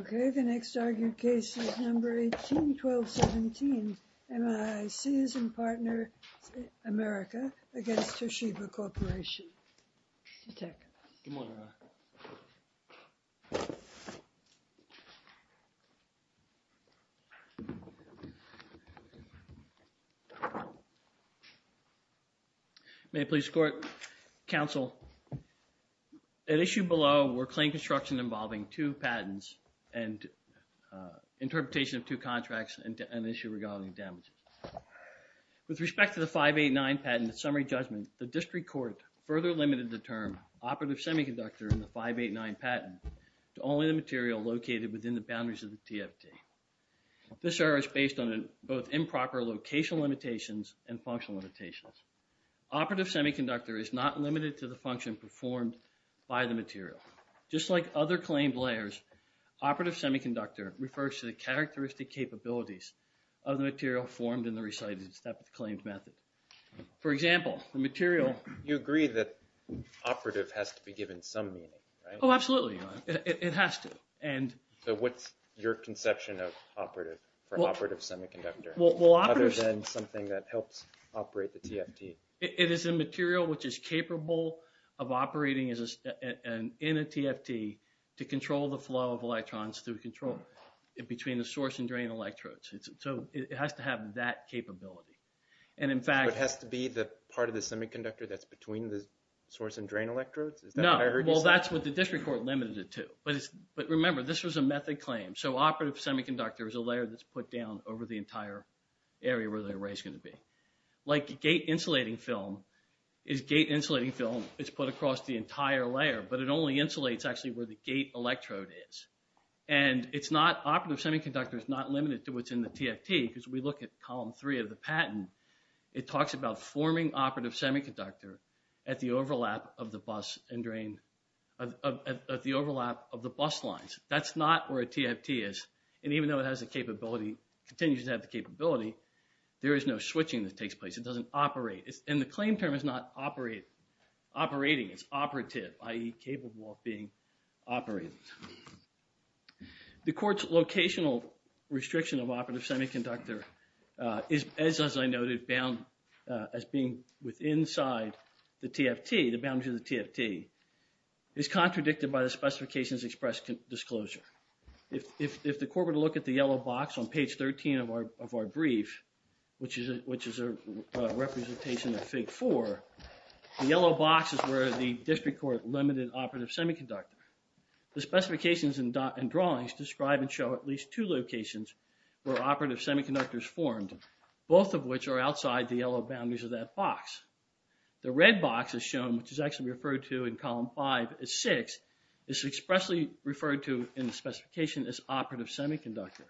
Okay, the next argued case is number 18-12-17, MiiCs & Partners America against Toshiba Corporation. May I please report, counsel? At issue below were claim construction involving two patents and interpretation of two contracts and an issue regarding damages. With respect to the 589 patent summary judgment, the district court further limited the term operative semiconductor in the 589 patent to only the material located within the boundaries of the TFT. This error is based on both improper location limitations and functional limitations. Operative semiconductor is not limited to the function performed by the material. Just like other claimed layers, operative semiconductor refers to the characteristic capabilities of the material formed in the recited step of the claimed method. For example, the material... You agree that operative has to be given some meaning, right? Oh, absolutely. It has to. So what's your conception of operative semiconductor other than something that helps operate the TFT? It is a material which is capable of operating in a TFT to control the flow of electrons between the source and drain electrodes. So it has to have that capability. So it has to be part of the semiconductor that's between the source and drain electrodes? No. Well, that's what the district court limited it to. But remember, this was a method claim. So operative semiconductor is a layer that's put down over the entire area where the array is going to be. Like gate insulating film is gate insulating film. It's put across the entire layer, but it only insulates actually where the gate electrode is. And operative semiconductor is not limited to what's in the TFT because we look at column three of the patent. It talks about forming operative semiconductor at the overlap of the bus lines. That's not where a TFT is. And even though it has the capability, continues to have the capability, there is no switching that takes place. It doesn't operate. And the claim term is not operating, it's operative, i.e. capable of being operated. The court's locational restriction of operative semiconductor is, as I noted, bound as being with inside the TFT, the boundary of the TFT, is contradicted by the specifications expressed in disclosure. If the court were to look at the yellow box on page 13 of our brief, which is a representation of Fig. 4, the yellow box is where the district court limited operative semiconductor. The specifications and drawings describe and show at least two locations where operative semiconductors formed, both of which are outside the yellow boundaries of that box. The red box is shown, which is actually referred to in column five as six, is expressly referred to in the specification as operative semiconductor.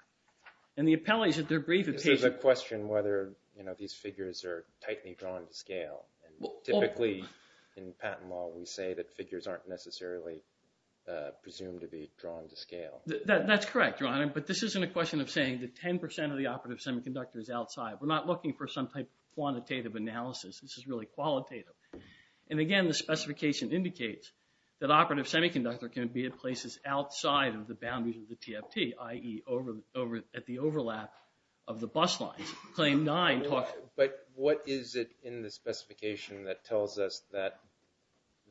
And the appellees at their brief... There's a question whether, you know, these figures are tightly drawn to scale. Typically, in patent law, we say that figures aren't necessarily presumed to be drawn to scale. That's correct, Your Honor, but this isn't a question of saying that 10% of the operative semiconductor is outside. We're not looking for some type of quantitative analysis. This is really qualitative. And again, the specification indicates that operative semiconductor can be at places outside of the boundaries of the TFT, i.e. at the overlap of the bus lines. Claim nine talks... But what is it in the specification that tells us that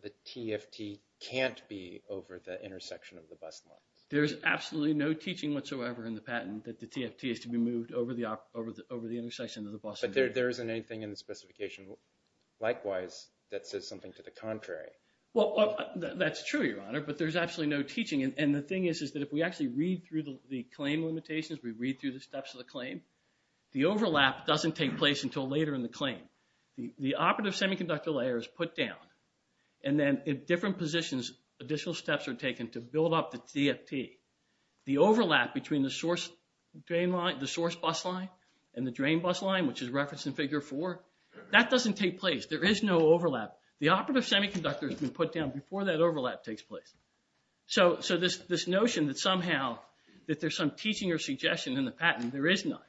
the TFT can't be over the intersection of the bus lines? There's absolutely no teaching whatsoever in the patent that the TFT is to be moved over the intersection of the bus... But there isn't anything in the specification, likewise, that says something to the contrary. Well, that's true, Your Honor, but there's absolutely no teaching. And the thing is, is that if we actually read through the claim limitations, we read through the steps of the claim, the overlap doesn't take place until later in the claim. The operative semiconductor layer is put down, and then in different positions, additional steps are taken to build up the TFT. The overlap between the source bus line and the drain bus line, which is referenced in figure four, that doesn't take place. There is no overlap. The operative semiconductor has been put down before that overlap takes place. So this notion that somehow that there's some teaching or suggestion in the patent, there is none.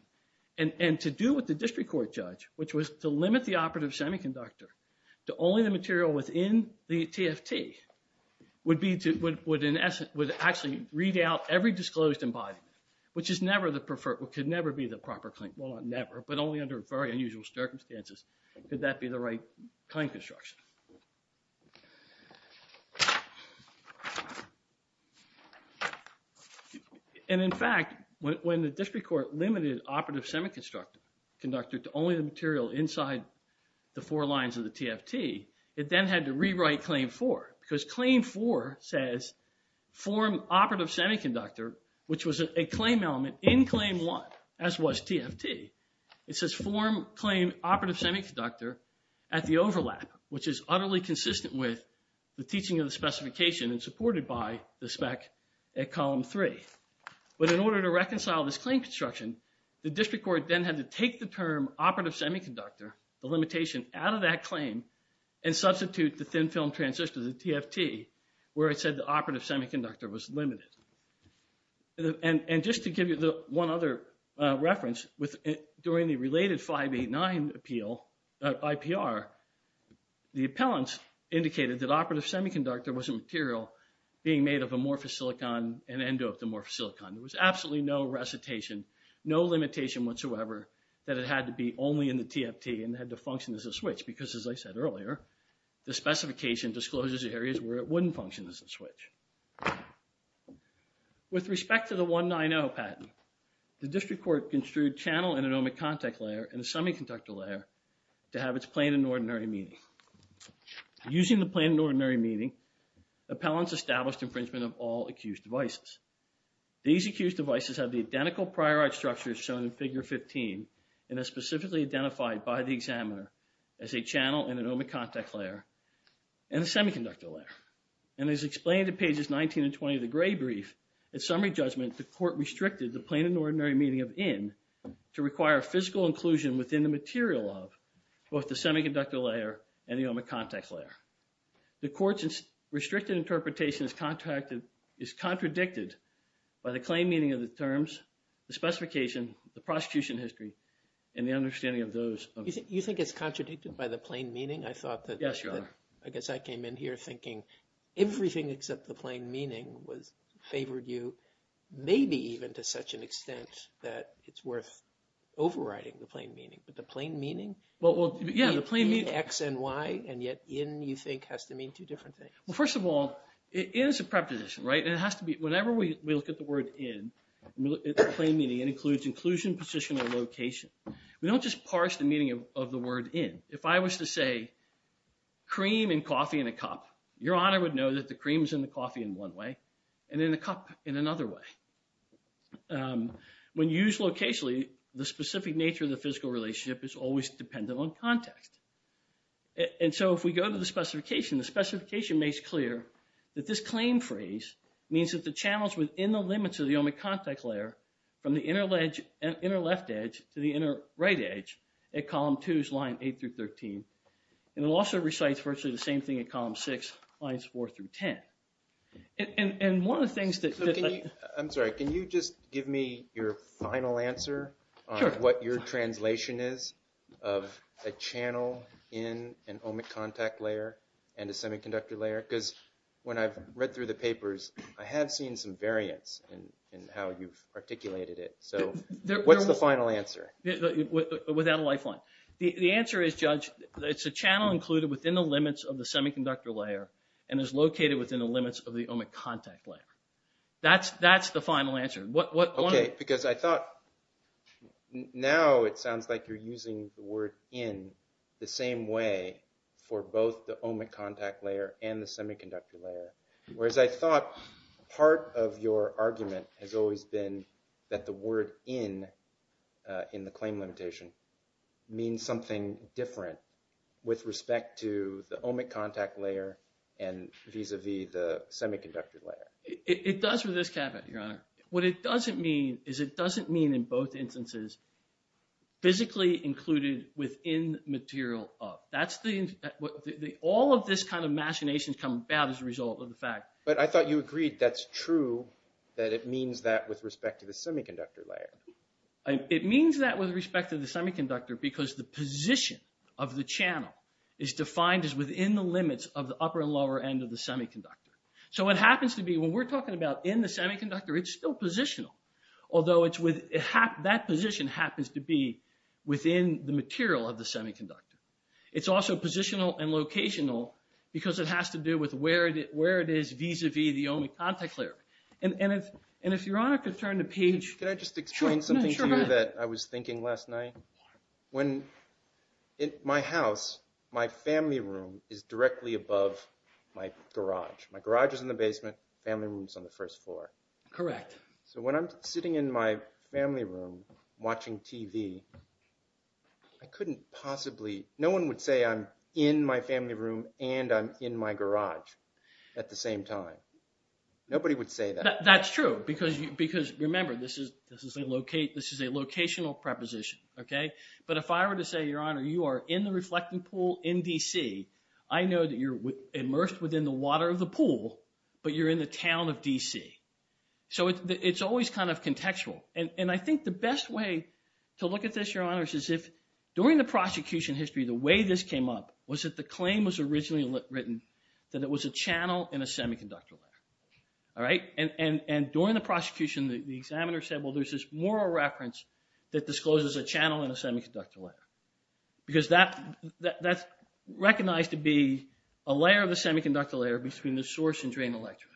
And to do with the district court judge, which was to limit the operative semiconductor to only the material within the TFT, would actually read out every disclosed embodiment, which could never be the proper claim. Well, not never, but only under very unusual circumstances could that be the right claim construction. And in fact, when the district court limited operative semiconductor to only the material inside the four lines of the TFT, it then had to rewrite claim four. Because claim four says form operative semiconductor, which was a claim element in claim one, as was TFT. It says form claim operative semiconductor at the overlap, which is utterly consistent with the teaching of the specification and supported by the spec at column three. But in order to reconcile this claim construction, the district court then had to take the term operative semiconductor, the limitation, out of that claim and substitute the thin film transistor, the TFT, where it said the operative semiconductor was limited. And just to give you one other reference, during the related 589 appeal, IPR, the appellants indicated that operative semiconductor was a material being made of amorphous silicon and endomorphous silicon. There was absolutely no recitation, no limitation whatsoever that it had to be only in the TFT and had to function as a switch. Because as I said earlier, the specification discloses areas where it wouldn't function as a switch. With respect to the 190 patent, the district court construed channel and anomic contact layer and a semiconductor layer to have its plain and ordinary meaning. Using the plain and ordinary meaning, appellants established infringement of all accused devices. These accused devices have the identical prior art structures shown in figure 15 and are specifically identified by the examiner as a channel and anomic contact layer and a semiconductor layer. And as explained in pages 19 and 20 of the Gray Brief, at summary judgment, the court restricted the plain and ordinary meaning of in to require physical inclusion within the material of both the semiconductor layer and the anomic contact layer. The court's restricted interpretation is contradicted by the plain meaning of the terms, the specification, the prosecution history, and the understanding of those. Do you think it's contradicted by the plain meaning? Yes, Your Honor. I guess I came in here thinking everything except the plain meaning favored you, maybe even to such an extent that it's worth overriding the plain meaning. The plain meaning? Well, yeah, the plain meaning. In, X, and Y, and yet in, you think, has to mean two different things. Well, first of all, it is a preposition, right? And it has to be, whenever we look at the word in, the plain meaning, it includes inclusion, position, and location. We don't just parse the meaning of the word in. If I was to say cream and coffee in a cup, Your Honor would know that the cream is in the coffee in one way and in the cup in another way. When used locationally, the specific nature of the physical relationship is always dependent on context. And so if we go to the specification, the specification makes clear that this claim phrase means that the channels within the limits of the omic contact layer from the inner left edge to the inner right edge at column 2's line 8 through 13. And it also recites virtually the same thing at column 6 lines 4 through 10. And one of the things that… I'm sorry. Can you just give me your final answer on what your translation is of a channel in an omic contact layer and a semiconductor layer? Because when I've read through the papers, I have seen some variance in how you've articulated it. So what's the final answer? Without a lifeline. The answer is, Judge, it's a channel included within the limits of the semiconductor layer and is located within the limits of the omic contact layer. That's the final answer. Okay, because I thought now it sounds like you're using the word in the same way for both the omic contact layer and the semiconductor layer. Whereas I thought part of your argument has always been that the word in in the claim limitation means something different with respect to the omic contact layer and vis-a-vis the semiconductor layer. It does for this caveat, Your Honor. What it doesn't mean is it doesn't mean in both instances physically included within material up. All of this kind of machinations come about as a result of the fact… But I thought you agreed that's true, that it means that with respect to the semiconductor layer. It means that with respect to the semiconductor because the position of the channel is defined as within the limits of the upper and lower end of the semiconductor. So what happens to be when we're talking about in the semiconductor, it's still positional. Although that position happens to be within the material of the semiconductor. It's also positional and locational because it has to do with where it is vis-a-vis the omic contact layer. And if Your Honor could turn the page… Can I just explain something to you that I was thinking last night? When in my house, my family room is directly above my garage. My garage is in the basement. Family room is on the first floor. Correct. So when I'm sitting in my family room watching TV, I couldn't possibly… No one would say I'm in my family room and I'm in my garage at the same time. Nobody would say that. That's true because remember this is a locational preposition. But if I were to say, Your Honor, you are in the reflecting pool in DC. I know that you're immersed within the water of the pool, but you're in the town of DC. So it's always kind of contextual. And I think the best way to look at this, Your Honor, is if during the prosecution history, the way this came up was that the claim was originally written that it was a channel in a semiconductor layer. All right? And during the prosecution, the examiner said, well, there's this moral reference that discloses a channel in a semiconductor layer. Because that's recognized to be a layer of the semiconductor layer between the source and drain electrodes.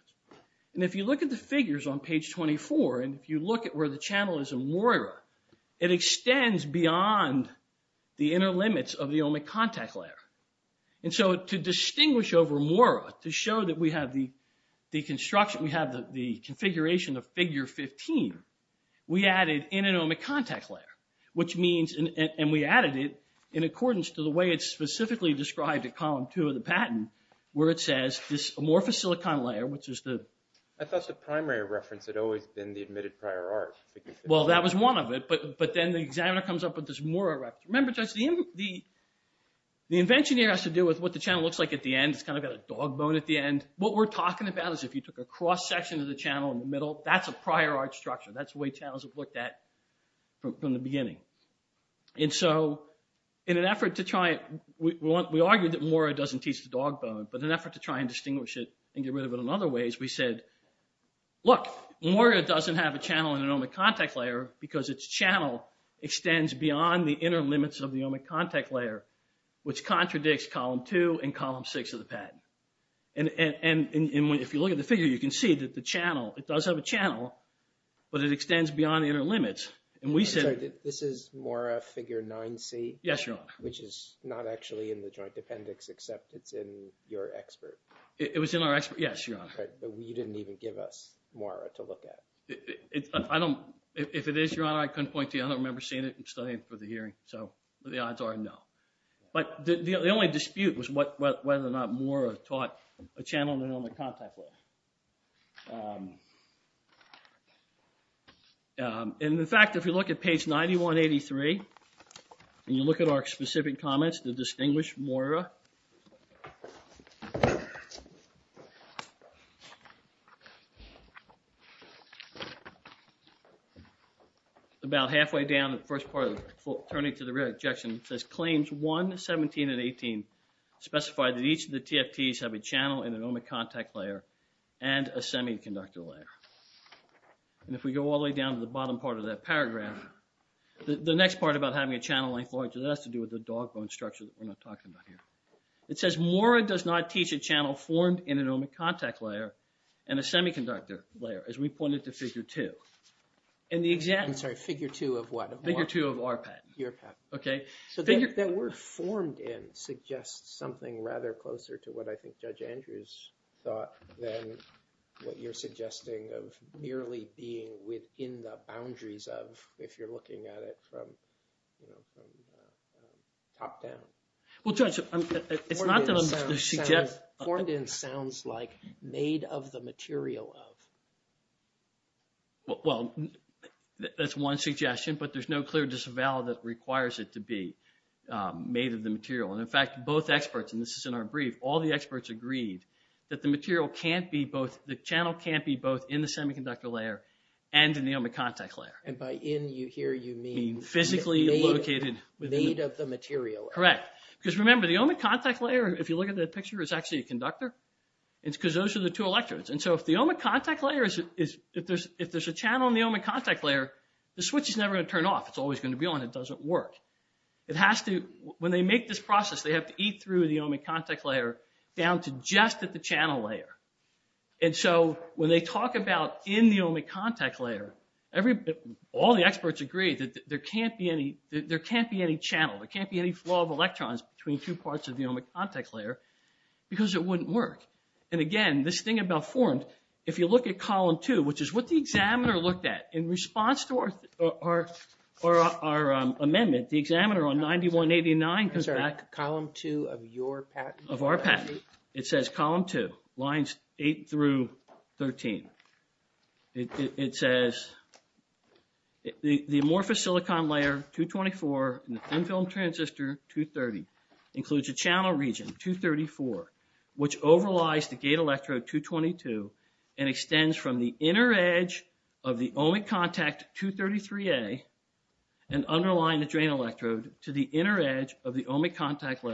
And if you look at the figures on page 24, and if you look at where the channel is in MoIRA, it extends beyond the inner limits of the ohmic contact layer. And so to distinguish over MoIRA, to show that we have the construction, we have the configuration of figure 15, we added in an ohmic contact layer. Which means, and we added it in accordance to the way it's specifically described at column two of the patent, where it says this amorphous silicon layer, which is the... I thought the primary reference had always been the admitted prior art. Well, that was one of it. But then the examiner comes up with this MoIRA reference. Remember, Judge, the invention here has to do with what the channel looks like at the end. It's kind of got a dog bone at the end. What we're talking about is if you took a cross section of the channel in the middle, that's a prior art structure. That's the way channels have looked at from the beginning. And so in an effort to try it, we argued that MoIRA doesn't teach the dog bone, but in an effort to try and distinguish it and get rid of it in other ways, we said, look, MoIRA doesn't have a channel in an ohmic contact layer because its channel extends beyond the inner limits of the ohmic contact layer, which contradicts column two and column six of the patent. And if you look at the figure, you can see that the channel, it does have a channel, but it extends beyond the inner limits. This is MoIRA figure 9C? Yes, Your Honor. Which is not actually in the joint appendix, except it's in your expert. It was in our expert, yes, Your Honor. But you didn't even give us MoIRA to look at. If it is, Your Honor, I couldn't point to you. I don't remember seeing it and studying it for the hearing, so the odds are no. But the only dispute was whether or not MoIRA taught a channel in an ohmic contact layer. And, in fact, if you look at page 9183, and you look at our specific comments to distinguish MoIRA, about halfway down the first part, turning to the rear ejection, it says claims 1, 17, and 18 specify that each of the TFTs have a channel in an ohmic contact layer and a semiconductor layer. And if we go all the way down to the bottom part of that paragraph, the next part about having a channel length larger, that has to do with the dog bone structure that we're not talking about here. It says MoIRA does not teach a channel formed in an ohmic contact layer and a semiconductor layer, as we pointed to figure 2. And the exact... I'm sorry, figure 2 of what? Figure 2 of our patent. Your patent. Okay. So that word formed in suggests something rather closer to what I think Judge Andrews thought than what you're suggesting of merely being within the boundaries of, if you're looking at it from top down. Well, Judge, it's not that I'm suggesting... Formed in sounds like made of the material of. Well, that's one suggestion, but there's no clear disavowal that requires it to be made of the material. And in fact, both experts, and this is in our brief, all the experts agreed that the material can't be both... The channel can't be both in the semiconductor layer and in the ohmic contact layer. And by in here, you mean... Physically located... Made of the material. Correct. Because remember, the ohmic contact layer, if you look at that picture, is actually a conductor. It's because those are the two electrodes. And so if the ohmic contact layer is... If there's a channel in the ohmic contact layer, the switch is never going to turn off. It's always going to be on. It doesn't work. It has to... When they make this process, they have to eat through the ohmic contact layer down to just at the channel layer. And so when they talk about in the ohmic contact layer, all the experts agree that there can't be any... There can't be any channel. There can't be any flow of electrons between two parts of the ohmic contact layer because it wouldn't work. And again, this thing about formed, if you look at column two, which is what the examiner looked at in response to our amendment, the examiner on 9189 comes back... I'm sorry. Column two of your patent? Of our patent. It says column two, lines eight through 13. It says the amorphous silicon layer 224 in the thin film transistor 230 includes a channel region 234, which overlies the gate electrode 222 and extends from the inner edge of the ohmic contact 233A and underlying the drain electrode to the inner edge of the ohmic contact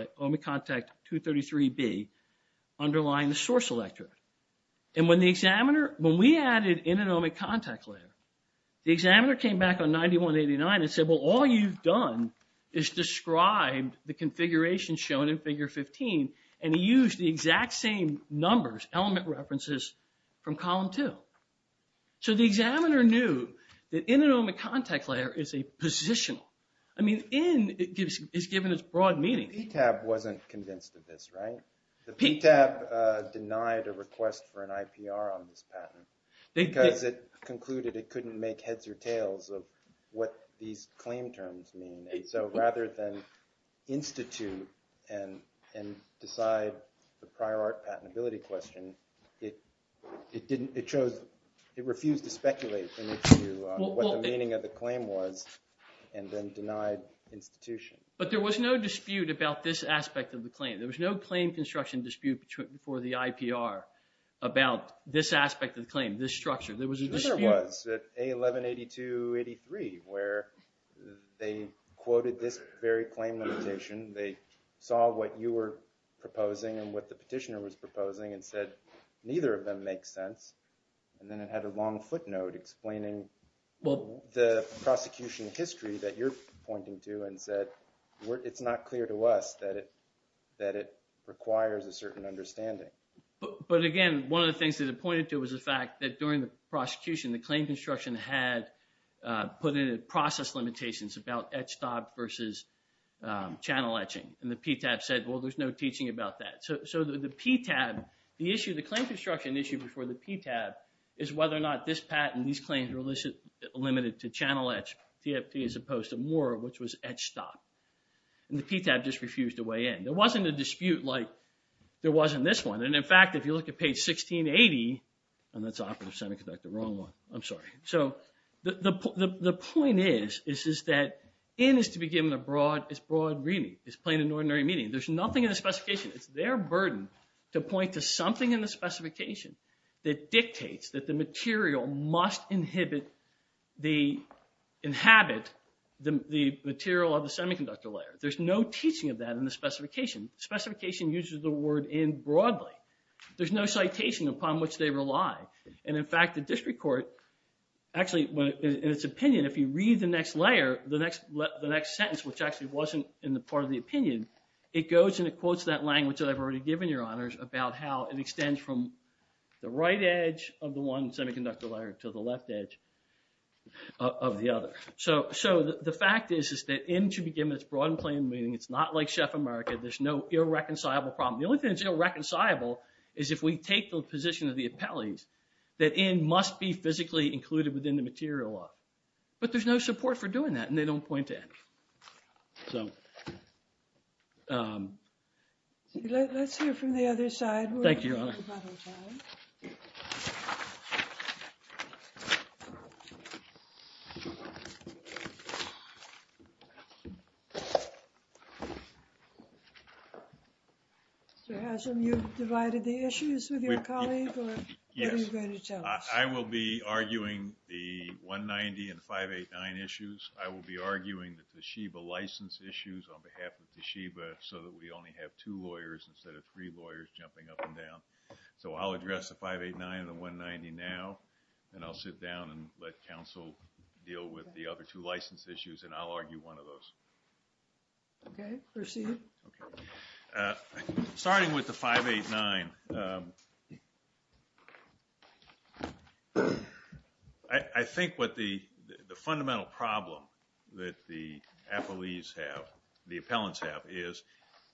233B underlying the source electrode. And when the examiner... When we added in an ohmic contact layer, the examiner came back on 9189 and said, well, all you've done is described the configuration shown in figure 15 and he used the exact same numbers, element references from column two. So the examiner knew that in an ohmic contact layer is a positional. I mean, in is given as broad meaning. The PTAP wasn't convinced of this, right? The PTAP denied a request for an IPR on this patent because it concluded it couldn't make heads or tails of what these claim terms mean. So rather than institute and decide the prior art patentability question, it didn't... It chose... It refused to speculate in its view what the meaning of the claim was and then denied institution. But there was no dispute about this aspect of the claim. There was no claim construction dispute for the IPR about this aspect of the claim, this structure. There was a dispute. There was at A118283 where they quoted this very claim limitation. They saw what you were proposing and what the petitioner was proposing and said, neither of them makes sense. And then it had a long footnote explaining the prosecution history that you're pointing to and said, it's not clear to us that it requires a certain understanding. But again, one of the things that it pointed to was the fact that during the prosecution, the claim construction had put in process limitations about etch stop versus channel etching. And the PTAP said, well, there's no teaching about that. So the PTAP, the issue, the claim construction issue before the PTAP is whether or not this patent, these claims are limited to channel etch, TFT, as opposed to more, which was etch stop. And the PTAP just refused to weigh in. There wasn't a dispute like there was in this one. And in fact, if you look at page 1680, and that's operative semiconductor, wrong one. I'm sorry. So the point is that in is to be given as broad reading, as plain and ordinary meaning. There's nothing in the specification. It's their burden to point to something in the specification that dictates that the material must inhibit, inhabit the material of the semiconductor layer. There's no teaching of that in the specification. Specification uses the word in broadly. There's no citation upon which they rely. And in fact, the district court actually, in its opinion, if you read the next layer, the next sentence, which actually wasn't in the part of the opinion, it goes and it quotes that language that I've already given your honors about how it extends from the right edge of the one semiconductor layer to the left edge of the other. So the fact is that in should be given as broad and plain meaning. It's not like Chef America. There's no irreconcilable problem. The only thing that's irreconcilable is if we take the position of the appellees that in must be physically included within the material law. But there's no support for doing that, and they don't point to it. So. Let's hear from the other side. Thank you, Your Honor. Mr. Haslam, you've divided the issues with your colleague? Yes. I will be arguing the 190 and 589 issues. I will be arguing the Toshiba license issues on behalf of Toshiba so that we only have two lawyers instead of three lawyers jumping up and down. So I'll address the 589 and the 190 now, and I'll sit down and let counsel deal with the other two license issues, and I'll argue one of those. Okay, proceed. Starting with the 589, I think what the fundamental problem that the appellees have, the appellants have, is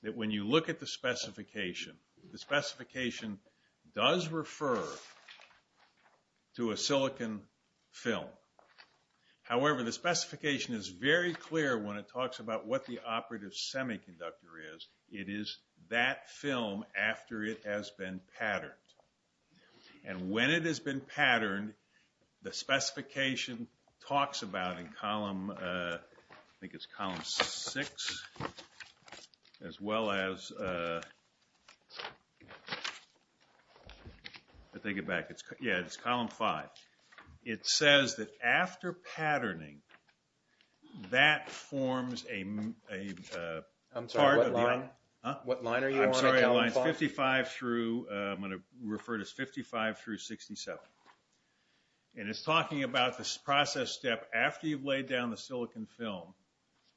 that when you look at the specification, the specification does refer to a silicon film. However, the specification is very clear when it talks about what the operative semiconductor is. It is that film after it has been patterned. And when it has been patterned, the specification talks about in column, I think it's column six, as well as, let me think it back. Yeah, it's column five. It says that after patterning, that forms a part of the... I'm sorry, what line? Huh? What line are you on in column five? I'm sorry, it's 55 through, I'm going to refer to it as 55 through 67. And it's talking about this process step after you've laid down the silicon film,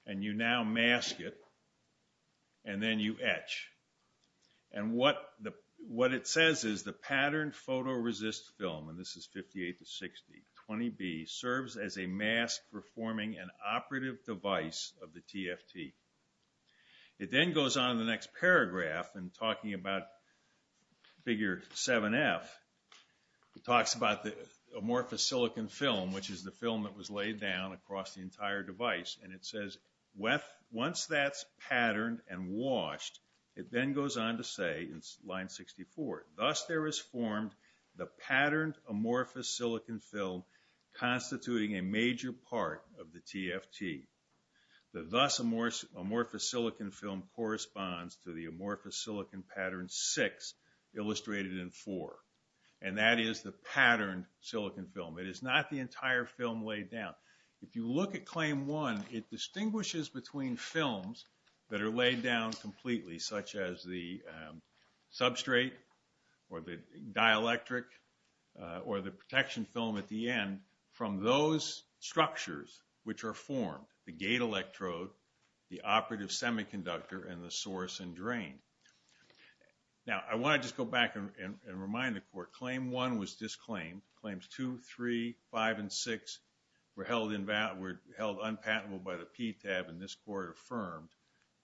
and you now mask it, and then you etch. And what it says is the patterned photoresist film, and this is 58 to 60, 20B, serves as a mask for forming an operative device of the TFT. It then goes on in the next paragraph in talking about figure 7F. It talks about the amorphous silicon film, which is the film that was laid down across the entire device. And it says once that's patterned and washed, it then goes on to say in line 64, thus there is formed the patterned amorphous silicon film, constituting a major part of the TFT. The thus amorphous silicon film corresponds to the amorphous silicon pattern six, illustrated in four. And that is the patterned silicon film. It is not the entire film laid down. If you look at Claim 1, it distinguishes between films that are laid down completely, such as the substrate or the dielectric or the protection film at the end, from those structures which are formed, the gate electrode, the operative semiconductor, and the source and drain. Now, I want to just go back and remind the Court, Claim 1 was disclaimed. Claims 2, 3, 5, and 6 were held unpatentable by the PTAB, and this Court affirmed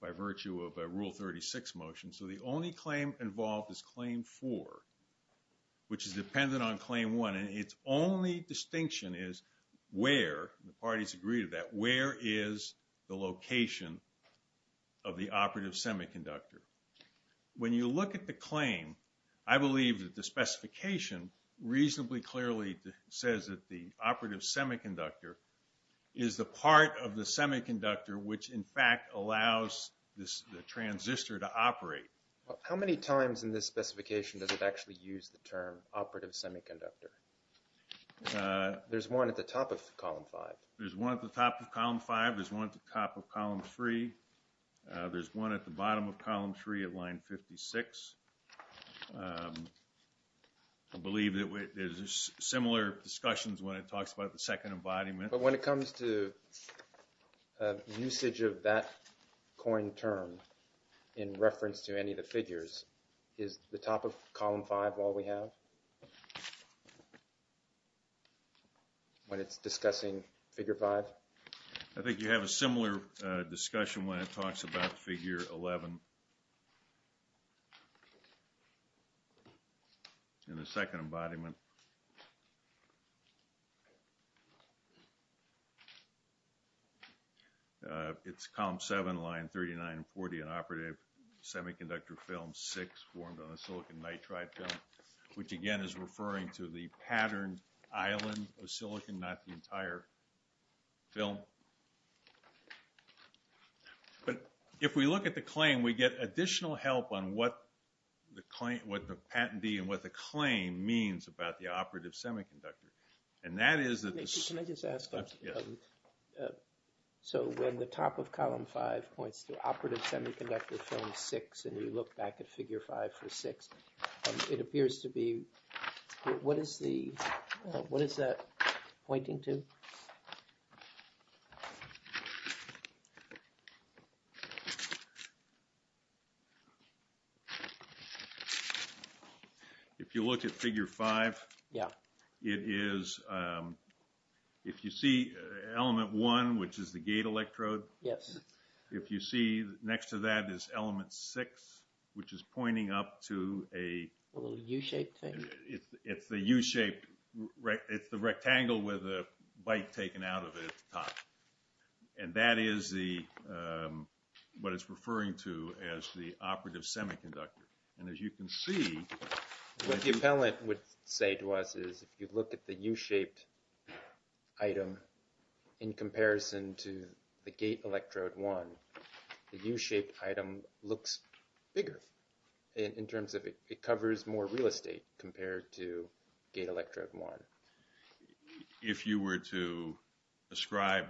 by virtue of a Rule 36 motion. So the only claim involved is Claim 4, which is dependent on Claim 1. And its only distinction is where, and the parties agreed to that, where is the location of the operative semiconductor. When you look at the claim, I believe that the specification reasonably clearly says that the operative semiconductor is the part of the semiconductor which, in fact, allows the transistor to operate. How many times in this specification does it actually use the term operative semiconductor? There's one at the top of Column 5. There's one at the top of Column 5. There's one at the top of Column 3. There's one at the bottom of Column 3 at Line 56. I believe that there's similar discussions when it talks about the second embodiment. But when it comes to usage of that coined term in reference to any of the figures, is the top of Column 5 all we have when it's discussing Figure 5? Well, I think you have a similar discussion when it talks about Figure 11 in the second embodiment. It's Column 7, Line 39 and 40 in Operative Semiconductor Film 6 formed on a silicon nitride film, which again is referring to the patterned island of silicon, not the entire film. But if we look at the claim, we get additional help on what the patentee and what the claim means about the operative semiconductor. Can I just ask, so when the top of Column 5 points to Operative Semiconductor Film 6 and you look back at Figure 5 for 6, it appears to be, what is that pointing to? If you look at Figure 5, it is, if you see Element 1, which is the gate electrode, if you see next to that is Element 6, which is pointing up to a U-shaped thing. And that is what it's referring to as the Operative Semiconductor. And as you can see… What the appellant would say to us is, if you look at the U-shaped item in comparison to the gate electrode 1, the U-shaped item looks bigger in terms of it covers more real estate compared to gate electrode 1. If you were to ascribe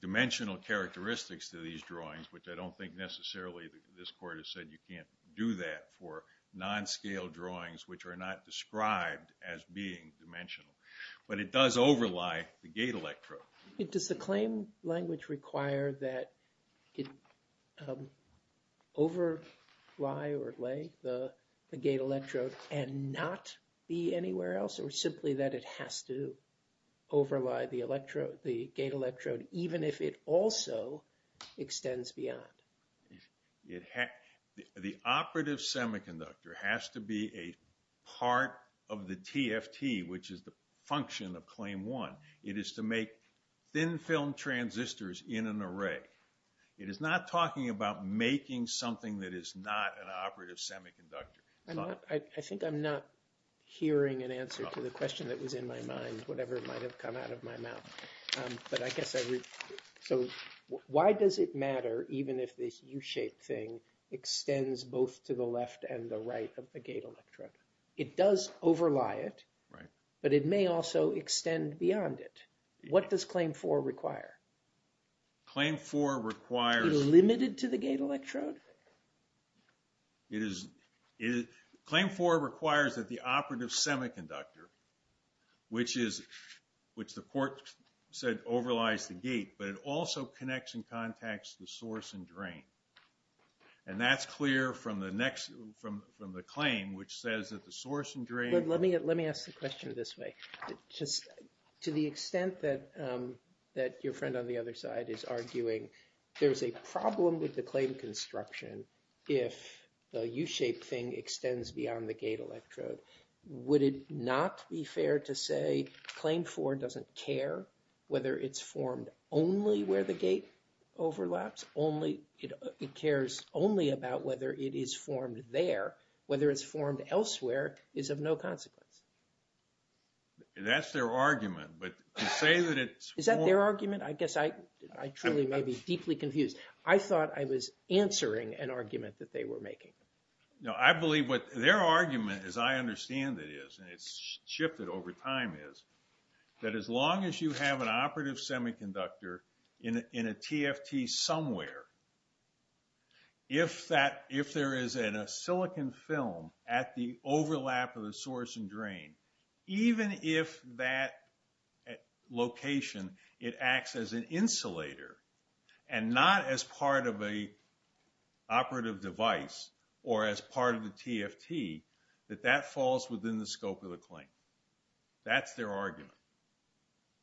dimensional characteristics to these drawings, which I don't think necessarily this court has said you can't do that for non-scale drawings, which are not described as being dimensional, but it does overlie the gate electrode. Does the claim language require that it overlie or lay the gate electrode and not be anywhere else, or simply that it has to overlie the electrode, the gate electrode, even if it also extends beyond? The Operative Semiconductor has to be a part of the TFT, which is the function of Claim 1. It is to make thin film transistors in an array. It is not talking about making something that is not an Operative Semiconductor. I think I'm not hearing an answer to the question that was in my mind, whatever might have come out of my mouth. But I guess I… So, why does it matter even if this U-shaped thing extends both to the left and the right of the gate electrode? It does overlie it, but it may also extend beyond it. What does Claim 4 require? Claim 4 requires… Is it limited to the gate electrode? Claim 4 requires that the Operative Semiconductor, which the court said overlies the gate, but it also connects and contacts the source and drain. And that's clear from the claim, which says that the source and drain… …if the U-shaped thing extends beyond the gate electrode. Would it not be fair to say Claim 4 doesn't care whether it's formed only where the gate overlaps? It cares only about whether it is formed there. Whether it's formed elsewhere is of no consequence. That's their argument, but to say that it's… Is that their argument? I guess I truly may be deeply confused. I thought I was answering an argument that they were making. No, I believe what their argument, as I understand it is, and it's shifted over time, is that as long as you have an Operative Semiconductor in a TFT somewhere, if there is a silicon film at the overlap of the source and drain… …even if that location, it acts as an insulator and not as part of a operative device or as part of the TFT, that that falls within the scope of the claim. That's their argument.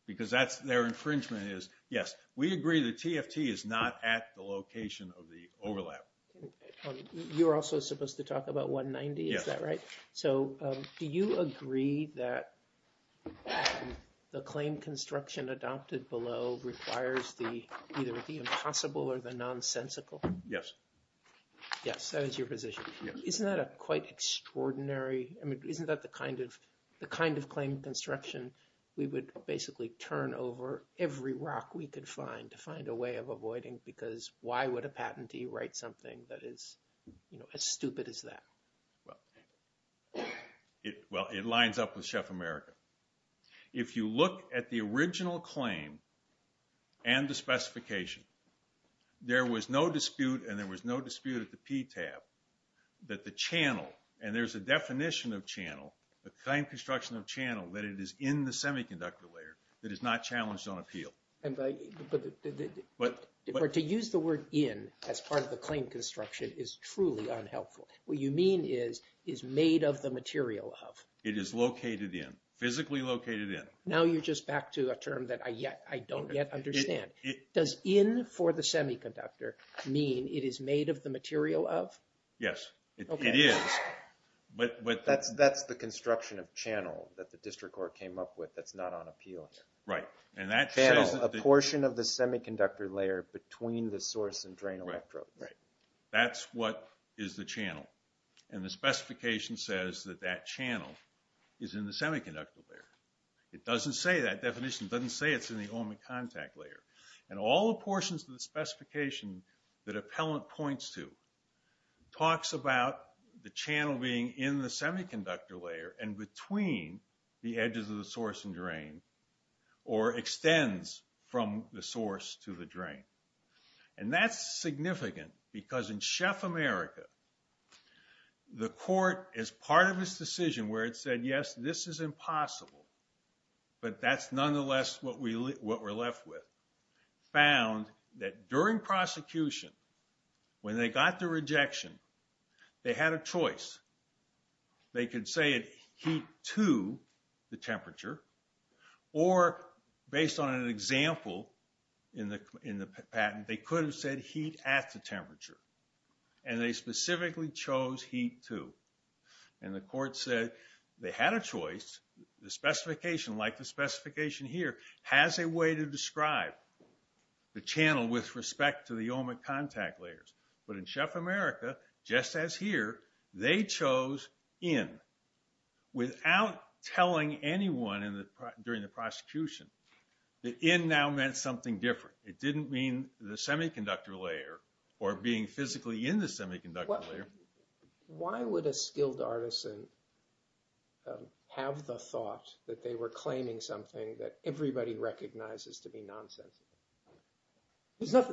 Because that's their infringement is, yes, we agree the TFT is not at the location of the overlap. You're also supposed to talk about 190, is that right? So do you agree that the claim construction adopted below requires either the impossible or the nonsensical? Yes. Yes, that is your position. Isn't that quite extraordinary? I mean, isn't that the kind of claim construction we would basically turn over every rock we could find to find a way of avoiding? Because why would a patentee write something that is as stupid as that? Well, it lines up with Chef America. If you look at the original claim and the specification, there was no dispute and there was no dispute at the PTAB that the channel, and there's a definition of channel, the claim construction of channel, that it is in the semiconductor layer that is not challenged on appeal. But to use the word in as part of the claim construction is truly unhelpful. What you mean is, is made of the material of? It is located in, physically located in. Now you're just back to a term that I don't yet understand. Does in for the semiconductor mean it is made of the material of? Yes, it is. That's the construction of channel that the district court came up with that's not on appeal. Channel, a portion of the semiconductor layer between the source and drain electrodes. That's what is the channel. And the specification says that that channel is in the semiconductor layer. It doesn't say that definition. It doesn't say it's in the element contact layer. And all the portions of the specification that appellant points to talks about the channel being in the semiconductor layer and between the edges of the source and drain, or extends from the source to the drain. And that's significant because in Chef America, the court is part of this decision where it said, yes, this is impossible. But that's nonetheless what we're left with. found that during prosecution, when they got the rejection, they had a choice. They could say heat to the temperature, or based on an example in the patent, they could have said heat at the temperature. And they specifically chose heat to. And the court said they had a choice. The specification, like the specification here, has a way to describe the channel with respect to the element contact layers. But in Chef America, just as here, they chose in without telling anyone during the prosecution that in now meant something different. It didn't mean the semiconductor layer or being physically in the semiconductor layer. Why would a skilled artisan have the thought that they were claiming something that everybody recognizes to be nonsensical?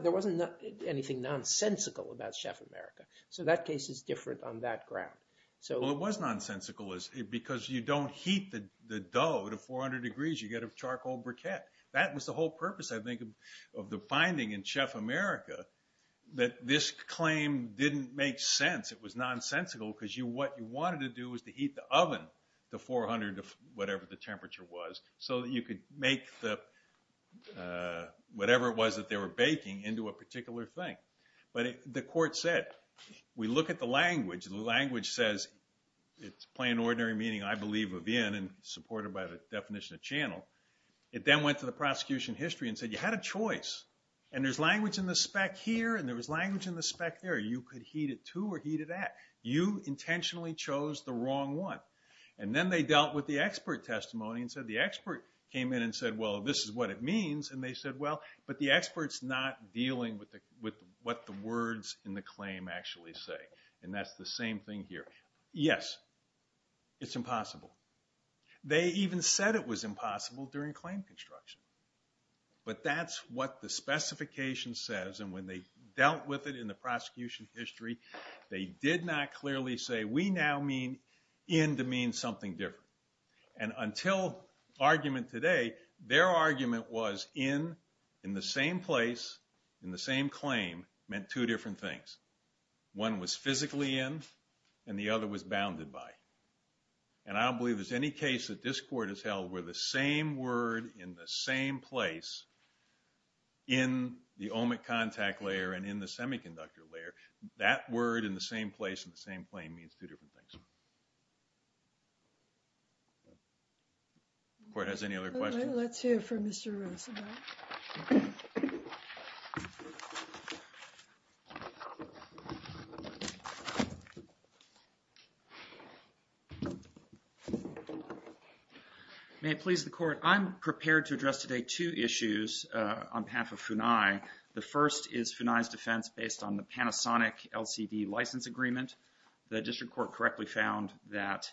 There wasn't anything nonsensical about Chef America. So that case is different on that ground. Well, it was nonsensical because you don't heat the dough to 400 degrees. You get a charcoal briquette. That was the whole purpose, I think, of the finding in Chef America, that this claim didn't make sense. It was nonsensical because what you wanted to do was to heat the oven to 400, whatever the temperature was, so that you could make whatever it was that they were baking into a particular thing. But the court said, we look at the language. The language says it's plain, ordinary meaning, I believe, of in, and supported by the definition of channel. It then went to the prosecution history and said, you had a choice. And there's language in the spec here, and there was language in the spec there. You could heat it to or heat it at. You intentionally chose the wrong one. And then they dealt with the expert testimony and said the expert came in and said, well, this is what it means. And they said, well, but the expert's not dealing with what the words in the claim actually say. And that's the same thing here. Yes, it's impossible. They even said it was impossible during claim construction. But that's what the specification says, and when they dealt with it in the prosecution history, they did not clearly say, we now mean in to mean something different. And until argument today, their argument was in, in the same place, in the same claim, meant two different things. One was physically in, and the other was bounded by. And I don't believe there's any case that this court has held where the same word in the same place, in the OMIC contact layer and in the semiconductor layer, that word in the same place in the same claim means two different things. Court, has any other questions? All right, let's hear from Mr. Roosevelt. May it please the court. I'm prepared to address today two issues on behalf of FUNAI. The first is FUNAI's defense based on the Panasonic LCD license agreement. The district court correctly found that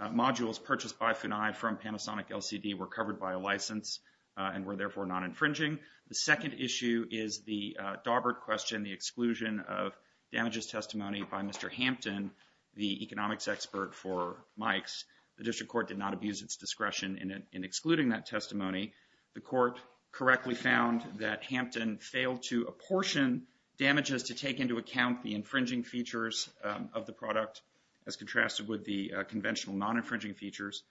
modules purchased by FUNAI from Panasonic LCD were covered by a license and were therefore not infringing. The second issue is the Daubert question, the exclusion of damages testimony by Mr. Hampton, the economics expert for Mikes. The district court did not abuse its discretion in excluding that testimony. The court correctly found that Hampton failed to apportion damages to take into account the infringing features of the product as contrasted with the conventional non-infringing features.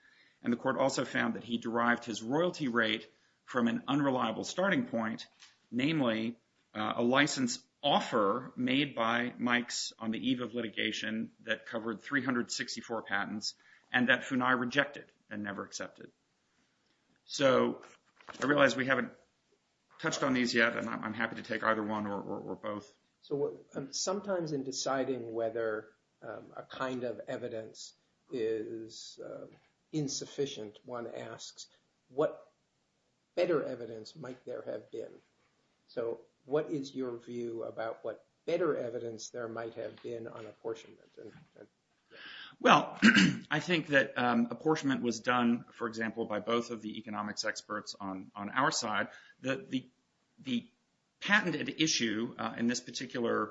And the court also found that he derived his royalty rate from an unreliable starting point, namely a license offer made by Mikes on the eve of litigation that covered 364 patents and that FUNAI rejected and never accepted. So I realize we haven't touched on these yet and I'm happy to take either one or both. So sometimes in deciding whether a kind of evidence is insufficient, one asks what better evidence might there have been? So what is your view about what better evidence there might have been on apportionment? Well, I think that apportionment was done, for example, by both of the economics experts on our side. The patented issue in this particular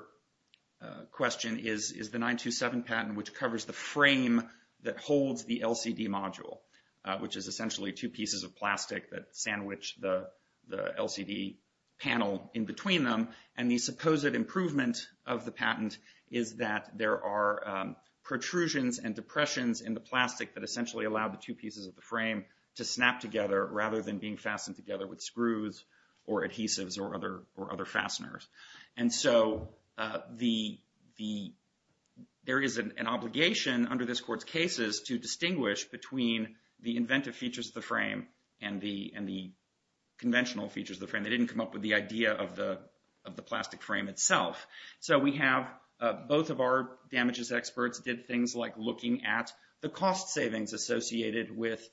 question is the 927 patent, which covers the frame that holds the LCD module, which is essentially two pieces of plastic that sandwich the LCD panel in between them. And the supposed improvement of the patent is that there are protrusions and depressions in the plastic that essentially allow the two pieces of the frame to snap together rather than being fastened together with screws or adhesives or other fasteners. And so there is an obligation under this court's cases to distinguish between the inventive features of the frame and the conventional features of the frame. They didn't come up with the idea of the plastic frame itself. So we have both of our damages experts did things like looking at the cost savings associated with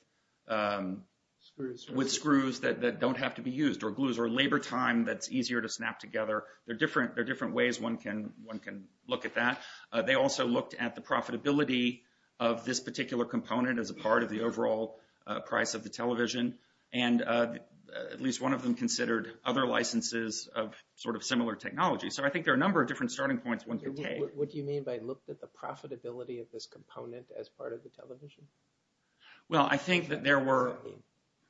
screws that don't have to be used or glues or labor time that's easier to snap together. There are different ways one can look at that. They also looked at the profitability of this particular component as a part of the overall price of the television. And at least one of them considered other licenses of sort of similar technology. So I think there are a number of different starting points one can take. What do you mean by looked at the profitability of this component as part of the television? Well, I think that there were,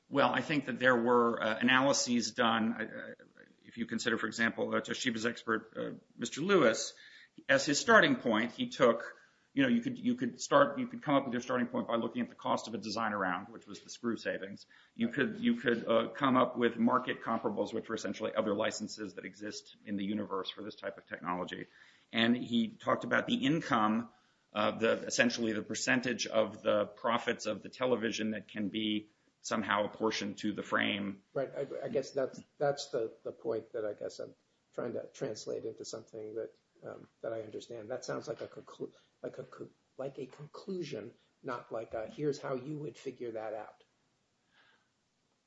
well, I think that there were analyses done. If you consider, for example, Toshiba's expert, Mr. Lewis, as his starting point, he took, you know, you could start, you could come up with your starting point by looking at the cost of a design around, which was the screw savings. You could come up with market comparables, which were essentially other licenses that exist in the universe for this type of technology. And he talked about the income, essentially the percentage of the profits of the television that can be somehow apportioned to the frame. Right. I guess that's the point that I guess I'm trying to translate into something that I understand. That sounds like a conclusion, not like a here's how you would figure that out.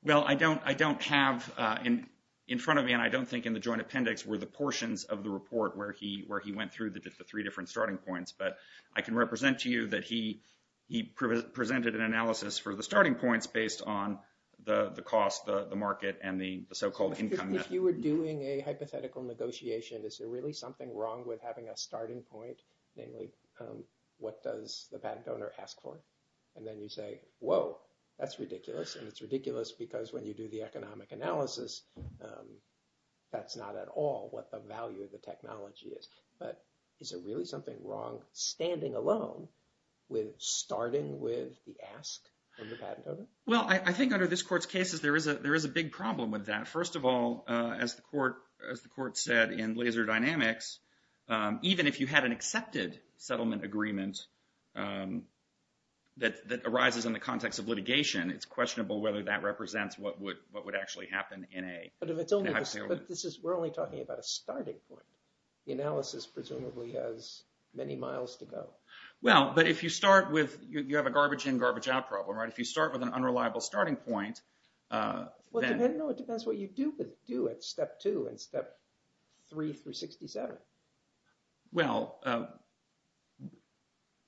Well, I don't have in front of me, and I don't think in the joint appendix, were the portions of the report where he went through the three different starting points. But I can represent to you that he presented an analysis for the starting points based on the cost, the market and the so-called income. If you were doing a hypothetical negotiation, is there really something wrong with having a starting point? Namely, what does the patent owner ask for? And then you say, whoa, that's ridiculous. And it's ridiculous because when you do the economic analysis, that's not at all what the value of the technology is. But is there really something wrong standing alone with starting with the ask of the patent owner? Well, I think under this court's cases, there is a there is a big problem with that. First of all, as the court as the court said in Laser Dynamics, even if you had an accepted settlement agreement that arises in the context of litigation, it's questionable whether that represents what would what would actually happen in a hypothetical. But this is we're only talking about a starting point. The analysis presumably has many miles to go. Well, but if you start with you have a garbage in garbage out problem, right? If you start with an unreliable starting point. No, it depends what you do, but do it step two and step three for 67. Well,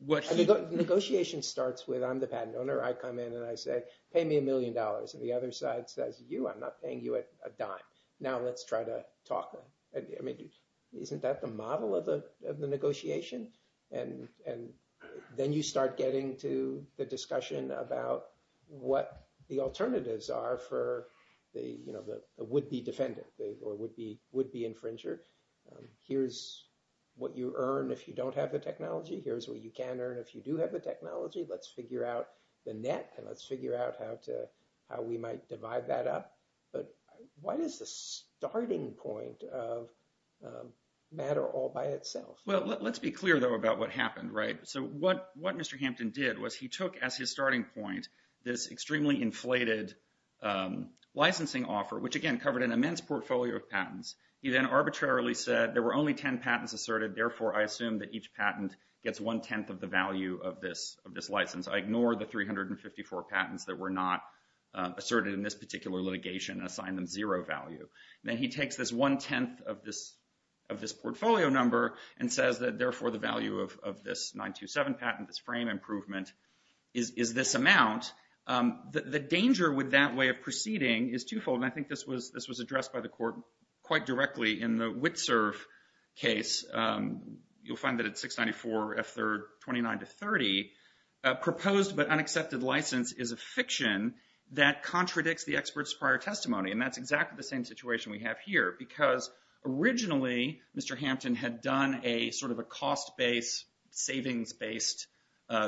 what negotiation starts with, I'm the patent owner. I come in and I say, pay me a million dollars. And the other side says, you are not paying you a dime. Now, let's try to talk. I mean, isn't that the model of the of the negotiation? And and then you start getting to the discussion about what the alternatives are for the, you know, the would be defendant or would be would be infringer. Here's what you earn if you don't have the technology. Here's what you can earn if you do have the technology. Let's figure out the net and let's figure out how to how we might divide that up. But what is the starting point of matter all by itself? Well, let's be clear, though, about what happened, right? So what what Mr. Hampton did was he took as his starting point, this extremely inflated licensing offer, which, again, covered an immense portfolio of patents. He then arbitrarily said there were only 10 patents asserted. Therefore, I assume that each patent gets one tenth of the value of this of this license. I ignore the 354 patents that were not asserted in this particular litigation and assign them zero value. And then he takes this one tenth of this of this portfolio number and says that, therefore, the value of this 927 patent, this frame improvement is this amount. The danger with that way of proceeding is twofold. And I think this was this was addressed by the court quite directly in the Witserv case. You'll find that at 694 F3rd 29 to 30 proposed but unaccepted license is a fiction that contradicts the expert's prior testimony. And that's exactly the same situation we have here, because originally Mr. Hampton had done a sort of a cost based savings based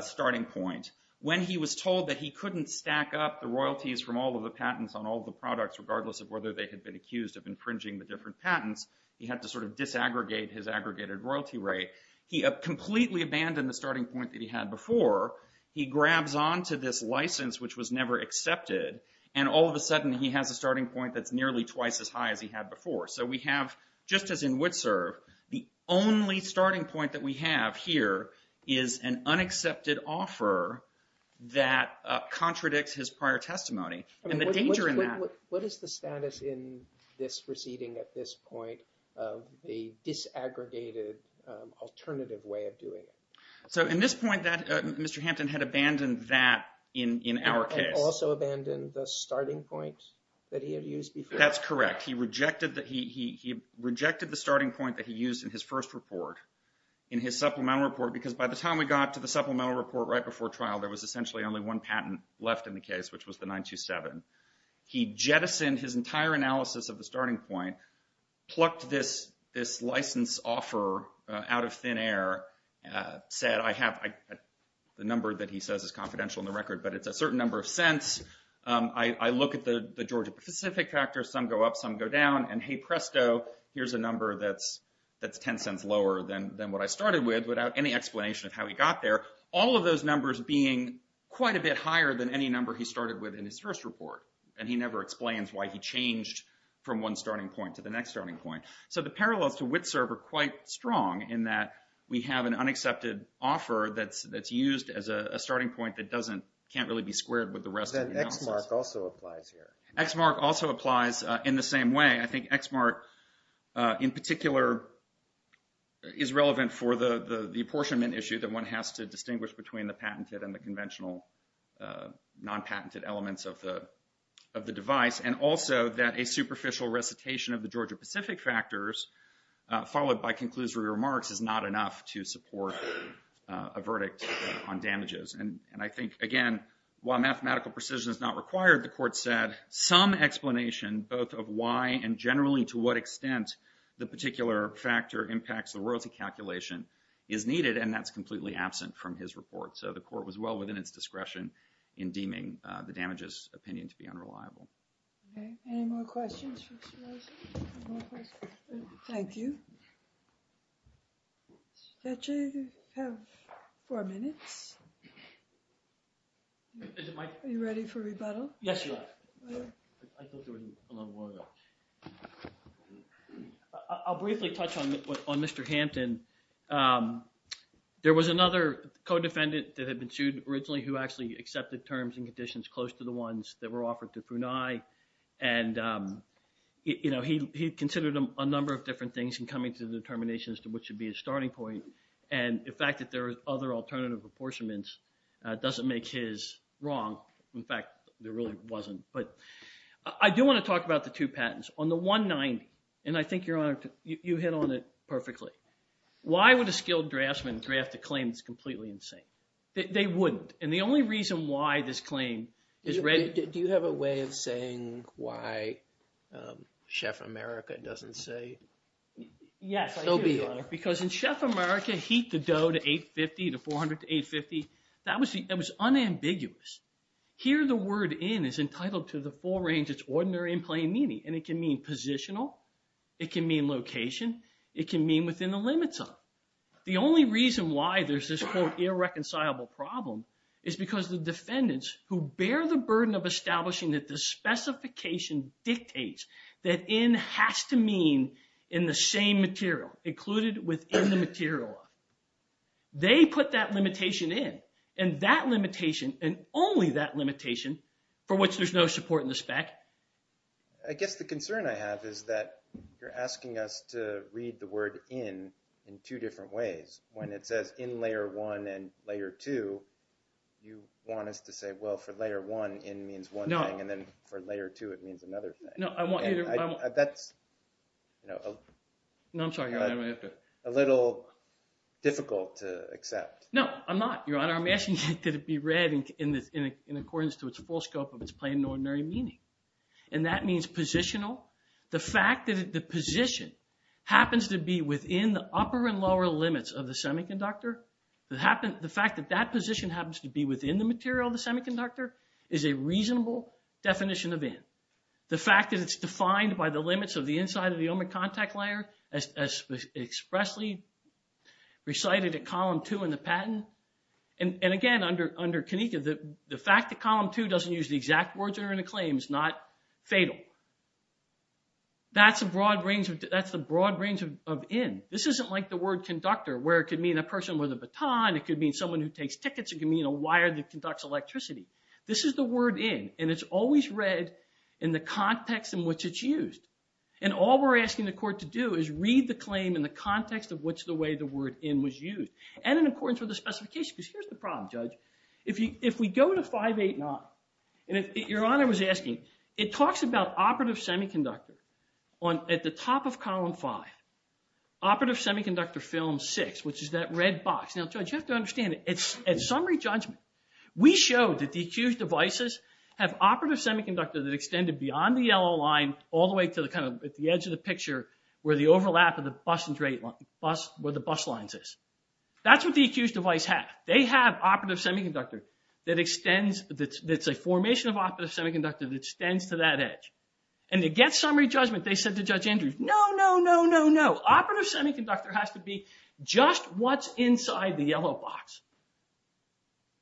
starting point. When he was told that he couldn't stack up the royalties from all of the patents on all the products, regardless of whether they had been accused of infringing the different patents, he had to sort of disaggregate his aggregated royalty rate. He completely abandoned the starting point that he had before. He grabs on to this license, which was never accepted. And all of a sudden he has a starting point that's nearly twice as high as he had before. So we have, just as in Witserv, the only starting point that we have here is an unaccepted offer that contradicts his prior testimony. What is the status in this proceeding at this point of the disaggregated alternative way of doing it? So in this point, Mr. Hampton had abandoned that in our case. He had also abandoned the starting point that he had used before. That's correct. He rejected the starting point that he used in his first report, in his supplemental report, because by the time we got to the supplemental report right before trial, there was essentially only one patent left in the case, which was the 927. He jettisoned his entire analysis of the starting point, plucked this license offer out of thin air, said, I have the number that he says is confidential in the record, but it's a certain number of cents. I look at the Georgia Pacific factor. Some go up, some go down. And hey, presto, here's a number that's 10 cents lower than what I started with without any explanation of how he got there. All of those numbers being quite a bit higher than any number he started with in his first report. And he never explains why he changed from one starting point to the next starting point. So the parallels to Witserv are quite strong in that we have an unaccepted offer that's used as a starting point that can't really be squared with the rest of the analysis. That X mark also applies here. X mark also applies in the same way. I think X mark in particular is relevant for the apportionment issue that one has to distinguish between the patented and the conventional non-patented elements of the device. And also that a superficial recitation of the Georgia Pacific factors followed by conclusory remarks is not enough to support a verdict on damages. And I think, again, while mathematical precision is not required, the court said some explanation both of why and generally to what extent the particular factor impacts the royalty calculation is needed. And that's completely absent from his report. So the court was well within its discretion in deeming the damages opinion to be unreliable. Any more questions for Mr. Rosen? Thank you. Judge, you have four minutes. Are you ready for rebuttal? Yes, I am. I'll briefly touch on Mr. Hampton. There was another codefendant that had been sued originally who actually accepted terms and conditions close to the ones that were offered to Punei. And he considered a number of different things in coming to the determination as to what should be his starting point. And the fact that there are other alternative apportionments doesn't make his wrong. In fact, there really wasn't. But I do want to talk about the two patents. On the 190, and I think, Your Honor, you hit on it perfectly. Why would a skilled draftsman draft a claim that's completely insane? They wouldn't. And the only reason why this claim is ready. Do you have a way of saying why Chef America doesn't say so be it? Yes, I do, Your Honor. Because in Chef America, heat the dough to 850 to 400 to 850, that was unambiguous. Here, the word in is entitled to the full range. It's ordinary in plain meaning. And it can mean positional. It can mean location. It can mean within the limits of. The only reason why there's this quote irreconcilable problem is because the defendants who bear the burden of establishing that the specification dictates that in has to mean in the same material included within the material. They put that limitation in. And that limitation and only that limitation for which there's no support in the spec. I guess the concern I have is that you're asking us to read the word in in two different ways. When it says in Layer 1 and Layer 2, you want us to say, well, for Layer 1, in means one thing. And then for Layer 2, it means another thing. No, I want you to. That's a little difficult to accept. No, I'm not, Your Honor. I'm asking you to be read in accordance to its full scope of its plain and ordinary meaning. And that means positional. The fact that the position happens to be within the upper and lower limits of the semiconductor, the fact that that position happens to be within the material of the semiconductor is a reasonable definition of in. The fact that it's defined by the limits of the inside of the ohmic contact layer as expressly recited at Column 2 in the patent. And again, under CONICA, the fact that Column 2 doesn't use the exact words that are in the claim is not fatal. That's the broad range of in. This isn't like the word conductor where it could mean a person with a baton. It could mean someone who takes tickets. It could mean a wire that conducts electricity. This is the word in. And it's always read in the context in which it's used. And all we're asking the court to do is read the claim in the context of which the way the word in was used and in accordance with the specification. Because here's the problem, Judge. If we go to 580, and Your Honor was asking, it talks about operative semiconductor at the top of Column 5, operative semiconductor film 6, which is that red box. Now, Judge, you have to understand. At summary judgment, we showed that the accused devices have operative semiconductor that extended beyond the yellow line all the way to the edge of the picture where the overlap of the bus lines is. That's what the accused device has. They have operative semiconductor that's a formation of operative semiconductor that extends to that edge. And to get summary judgment, they said to Judge Andrews, no, no, no, no, no. Just what's inside the yellow box?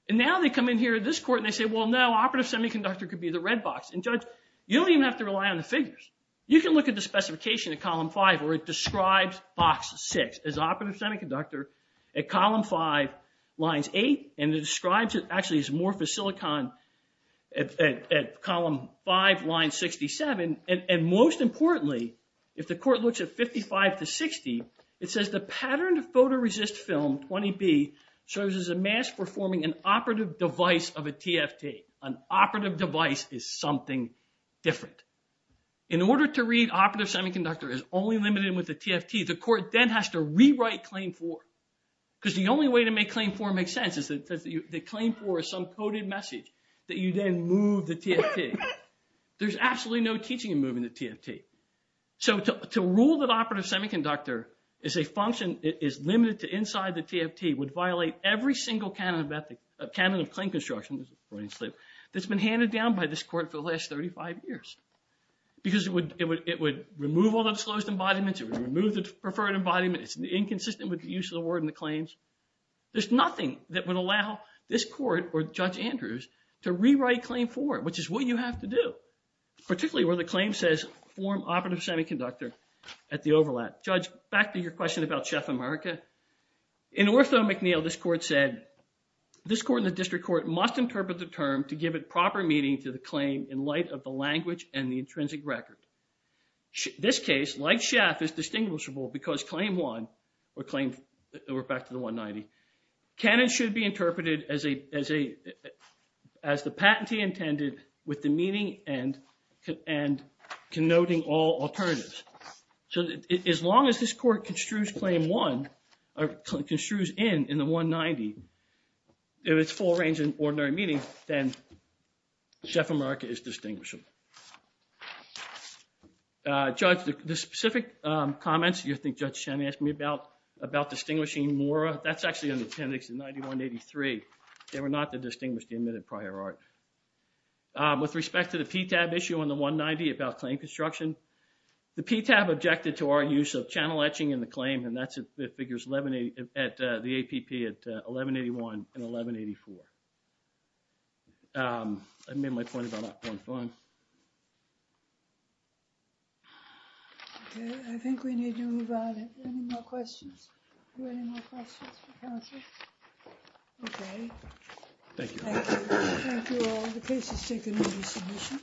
And now they come in here, this court, and they say, well, no, operative semiconductor could be the red box. And, Judge, you don't even have to rely on the figures. You can look at the specification at Column 5 where it describes box 6 as operative semiconductor at Column 5, lines 8. And it describes it actually as morphosilicon at Column 5, line 67. And most importantly, if the court looks at 55 to 60, it says the patterned photoresist film, 20B, shows as a mask for forming an operative device of a TFT. An operative device is something different. In order to read operative semiconductor as only limited with a TFT, the court then has to rewrite Claim 4. Because the only way to make Claim 4 make sense is that Claim 4 is some coded message that you then move the TFT. There's absolutely no teaching in moving the TFT. So to rule that operative semiconductor is a function that is limited to inside the TFT would violate every single canon of claim construction that's been handed down by this court for the last 35 years. Because it would remove all the disclosed embodiments. It would remove the preferred embodiment. It's inconsistent with the use of the word in the claims. There's nothing that would allow this court or Judge Andrews to rewrite Claim 4, which is what you have to do. Particularly where the claim says form operative semiconductor at the overlap. Judge, back to your question about Chef America. In Ortho McNeil, this court said, this court and the district court must interpret the term to give it proper meaning to the claim in light of the language and the intrinsic record. This case, like Chef, is distinguishable because Claim 1, or back to the 190, canon should be interpreted as the patentee intended with the meaning and connoting all alternatives. So as long as this court construes Claim 1, or construes in the 190, in its full range of ordinary meaning, then Chef America is distinguishable. Judge, the specific comments you think Judge Shannon asked me about, about distinguishing Mora, that's actually in the appendix in 9183. They were not to distinguish the admitted prior art. With respect to the PTAB issue on the 190 about claim construction. The PTAB objected to our use of channel etching in the claim, and that figures at the APP at 1181 and 1184. I made my point about that point fine. I think we need to move on. Any more questions? Any more questions for counsel? Okay. Thank you. Thank you all. The case is taken into submission.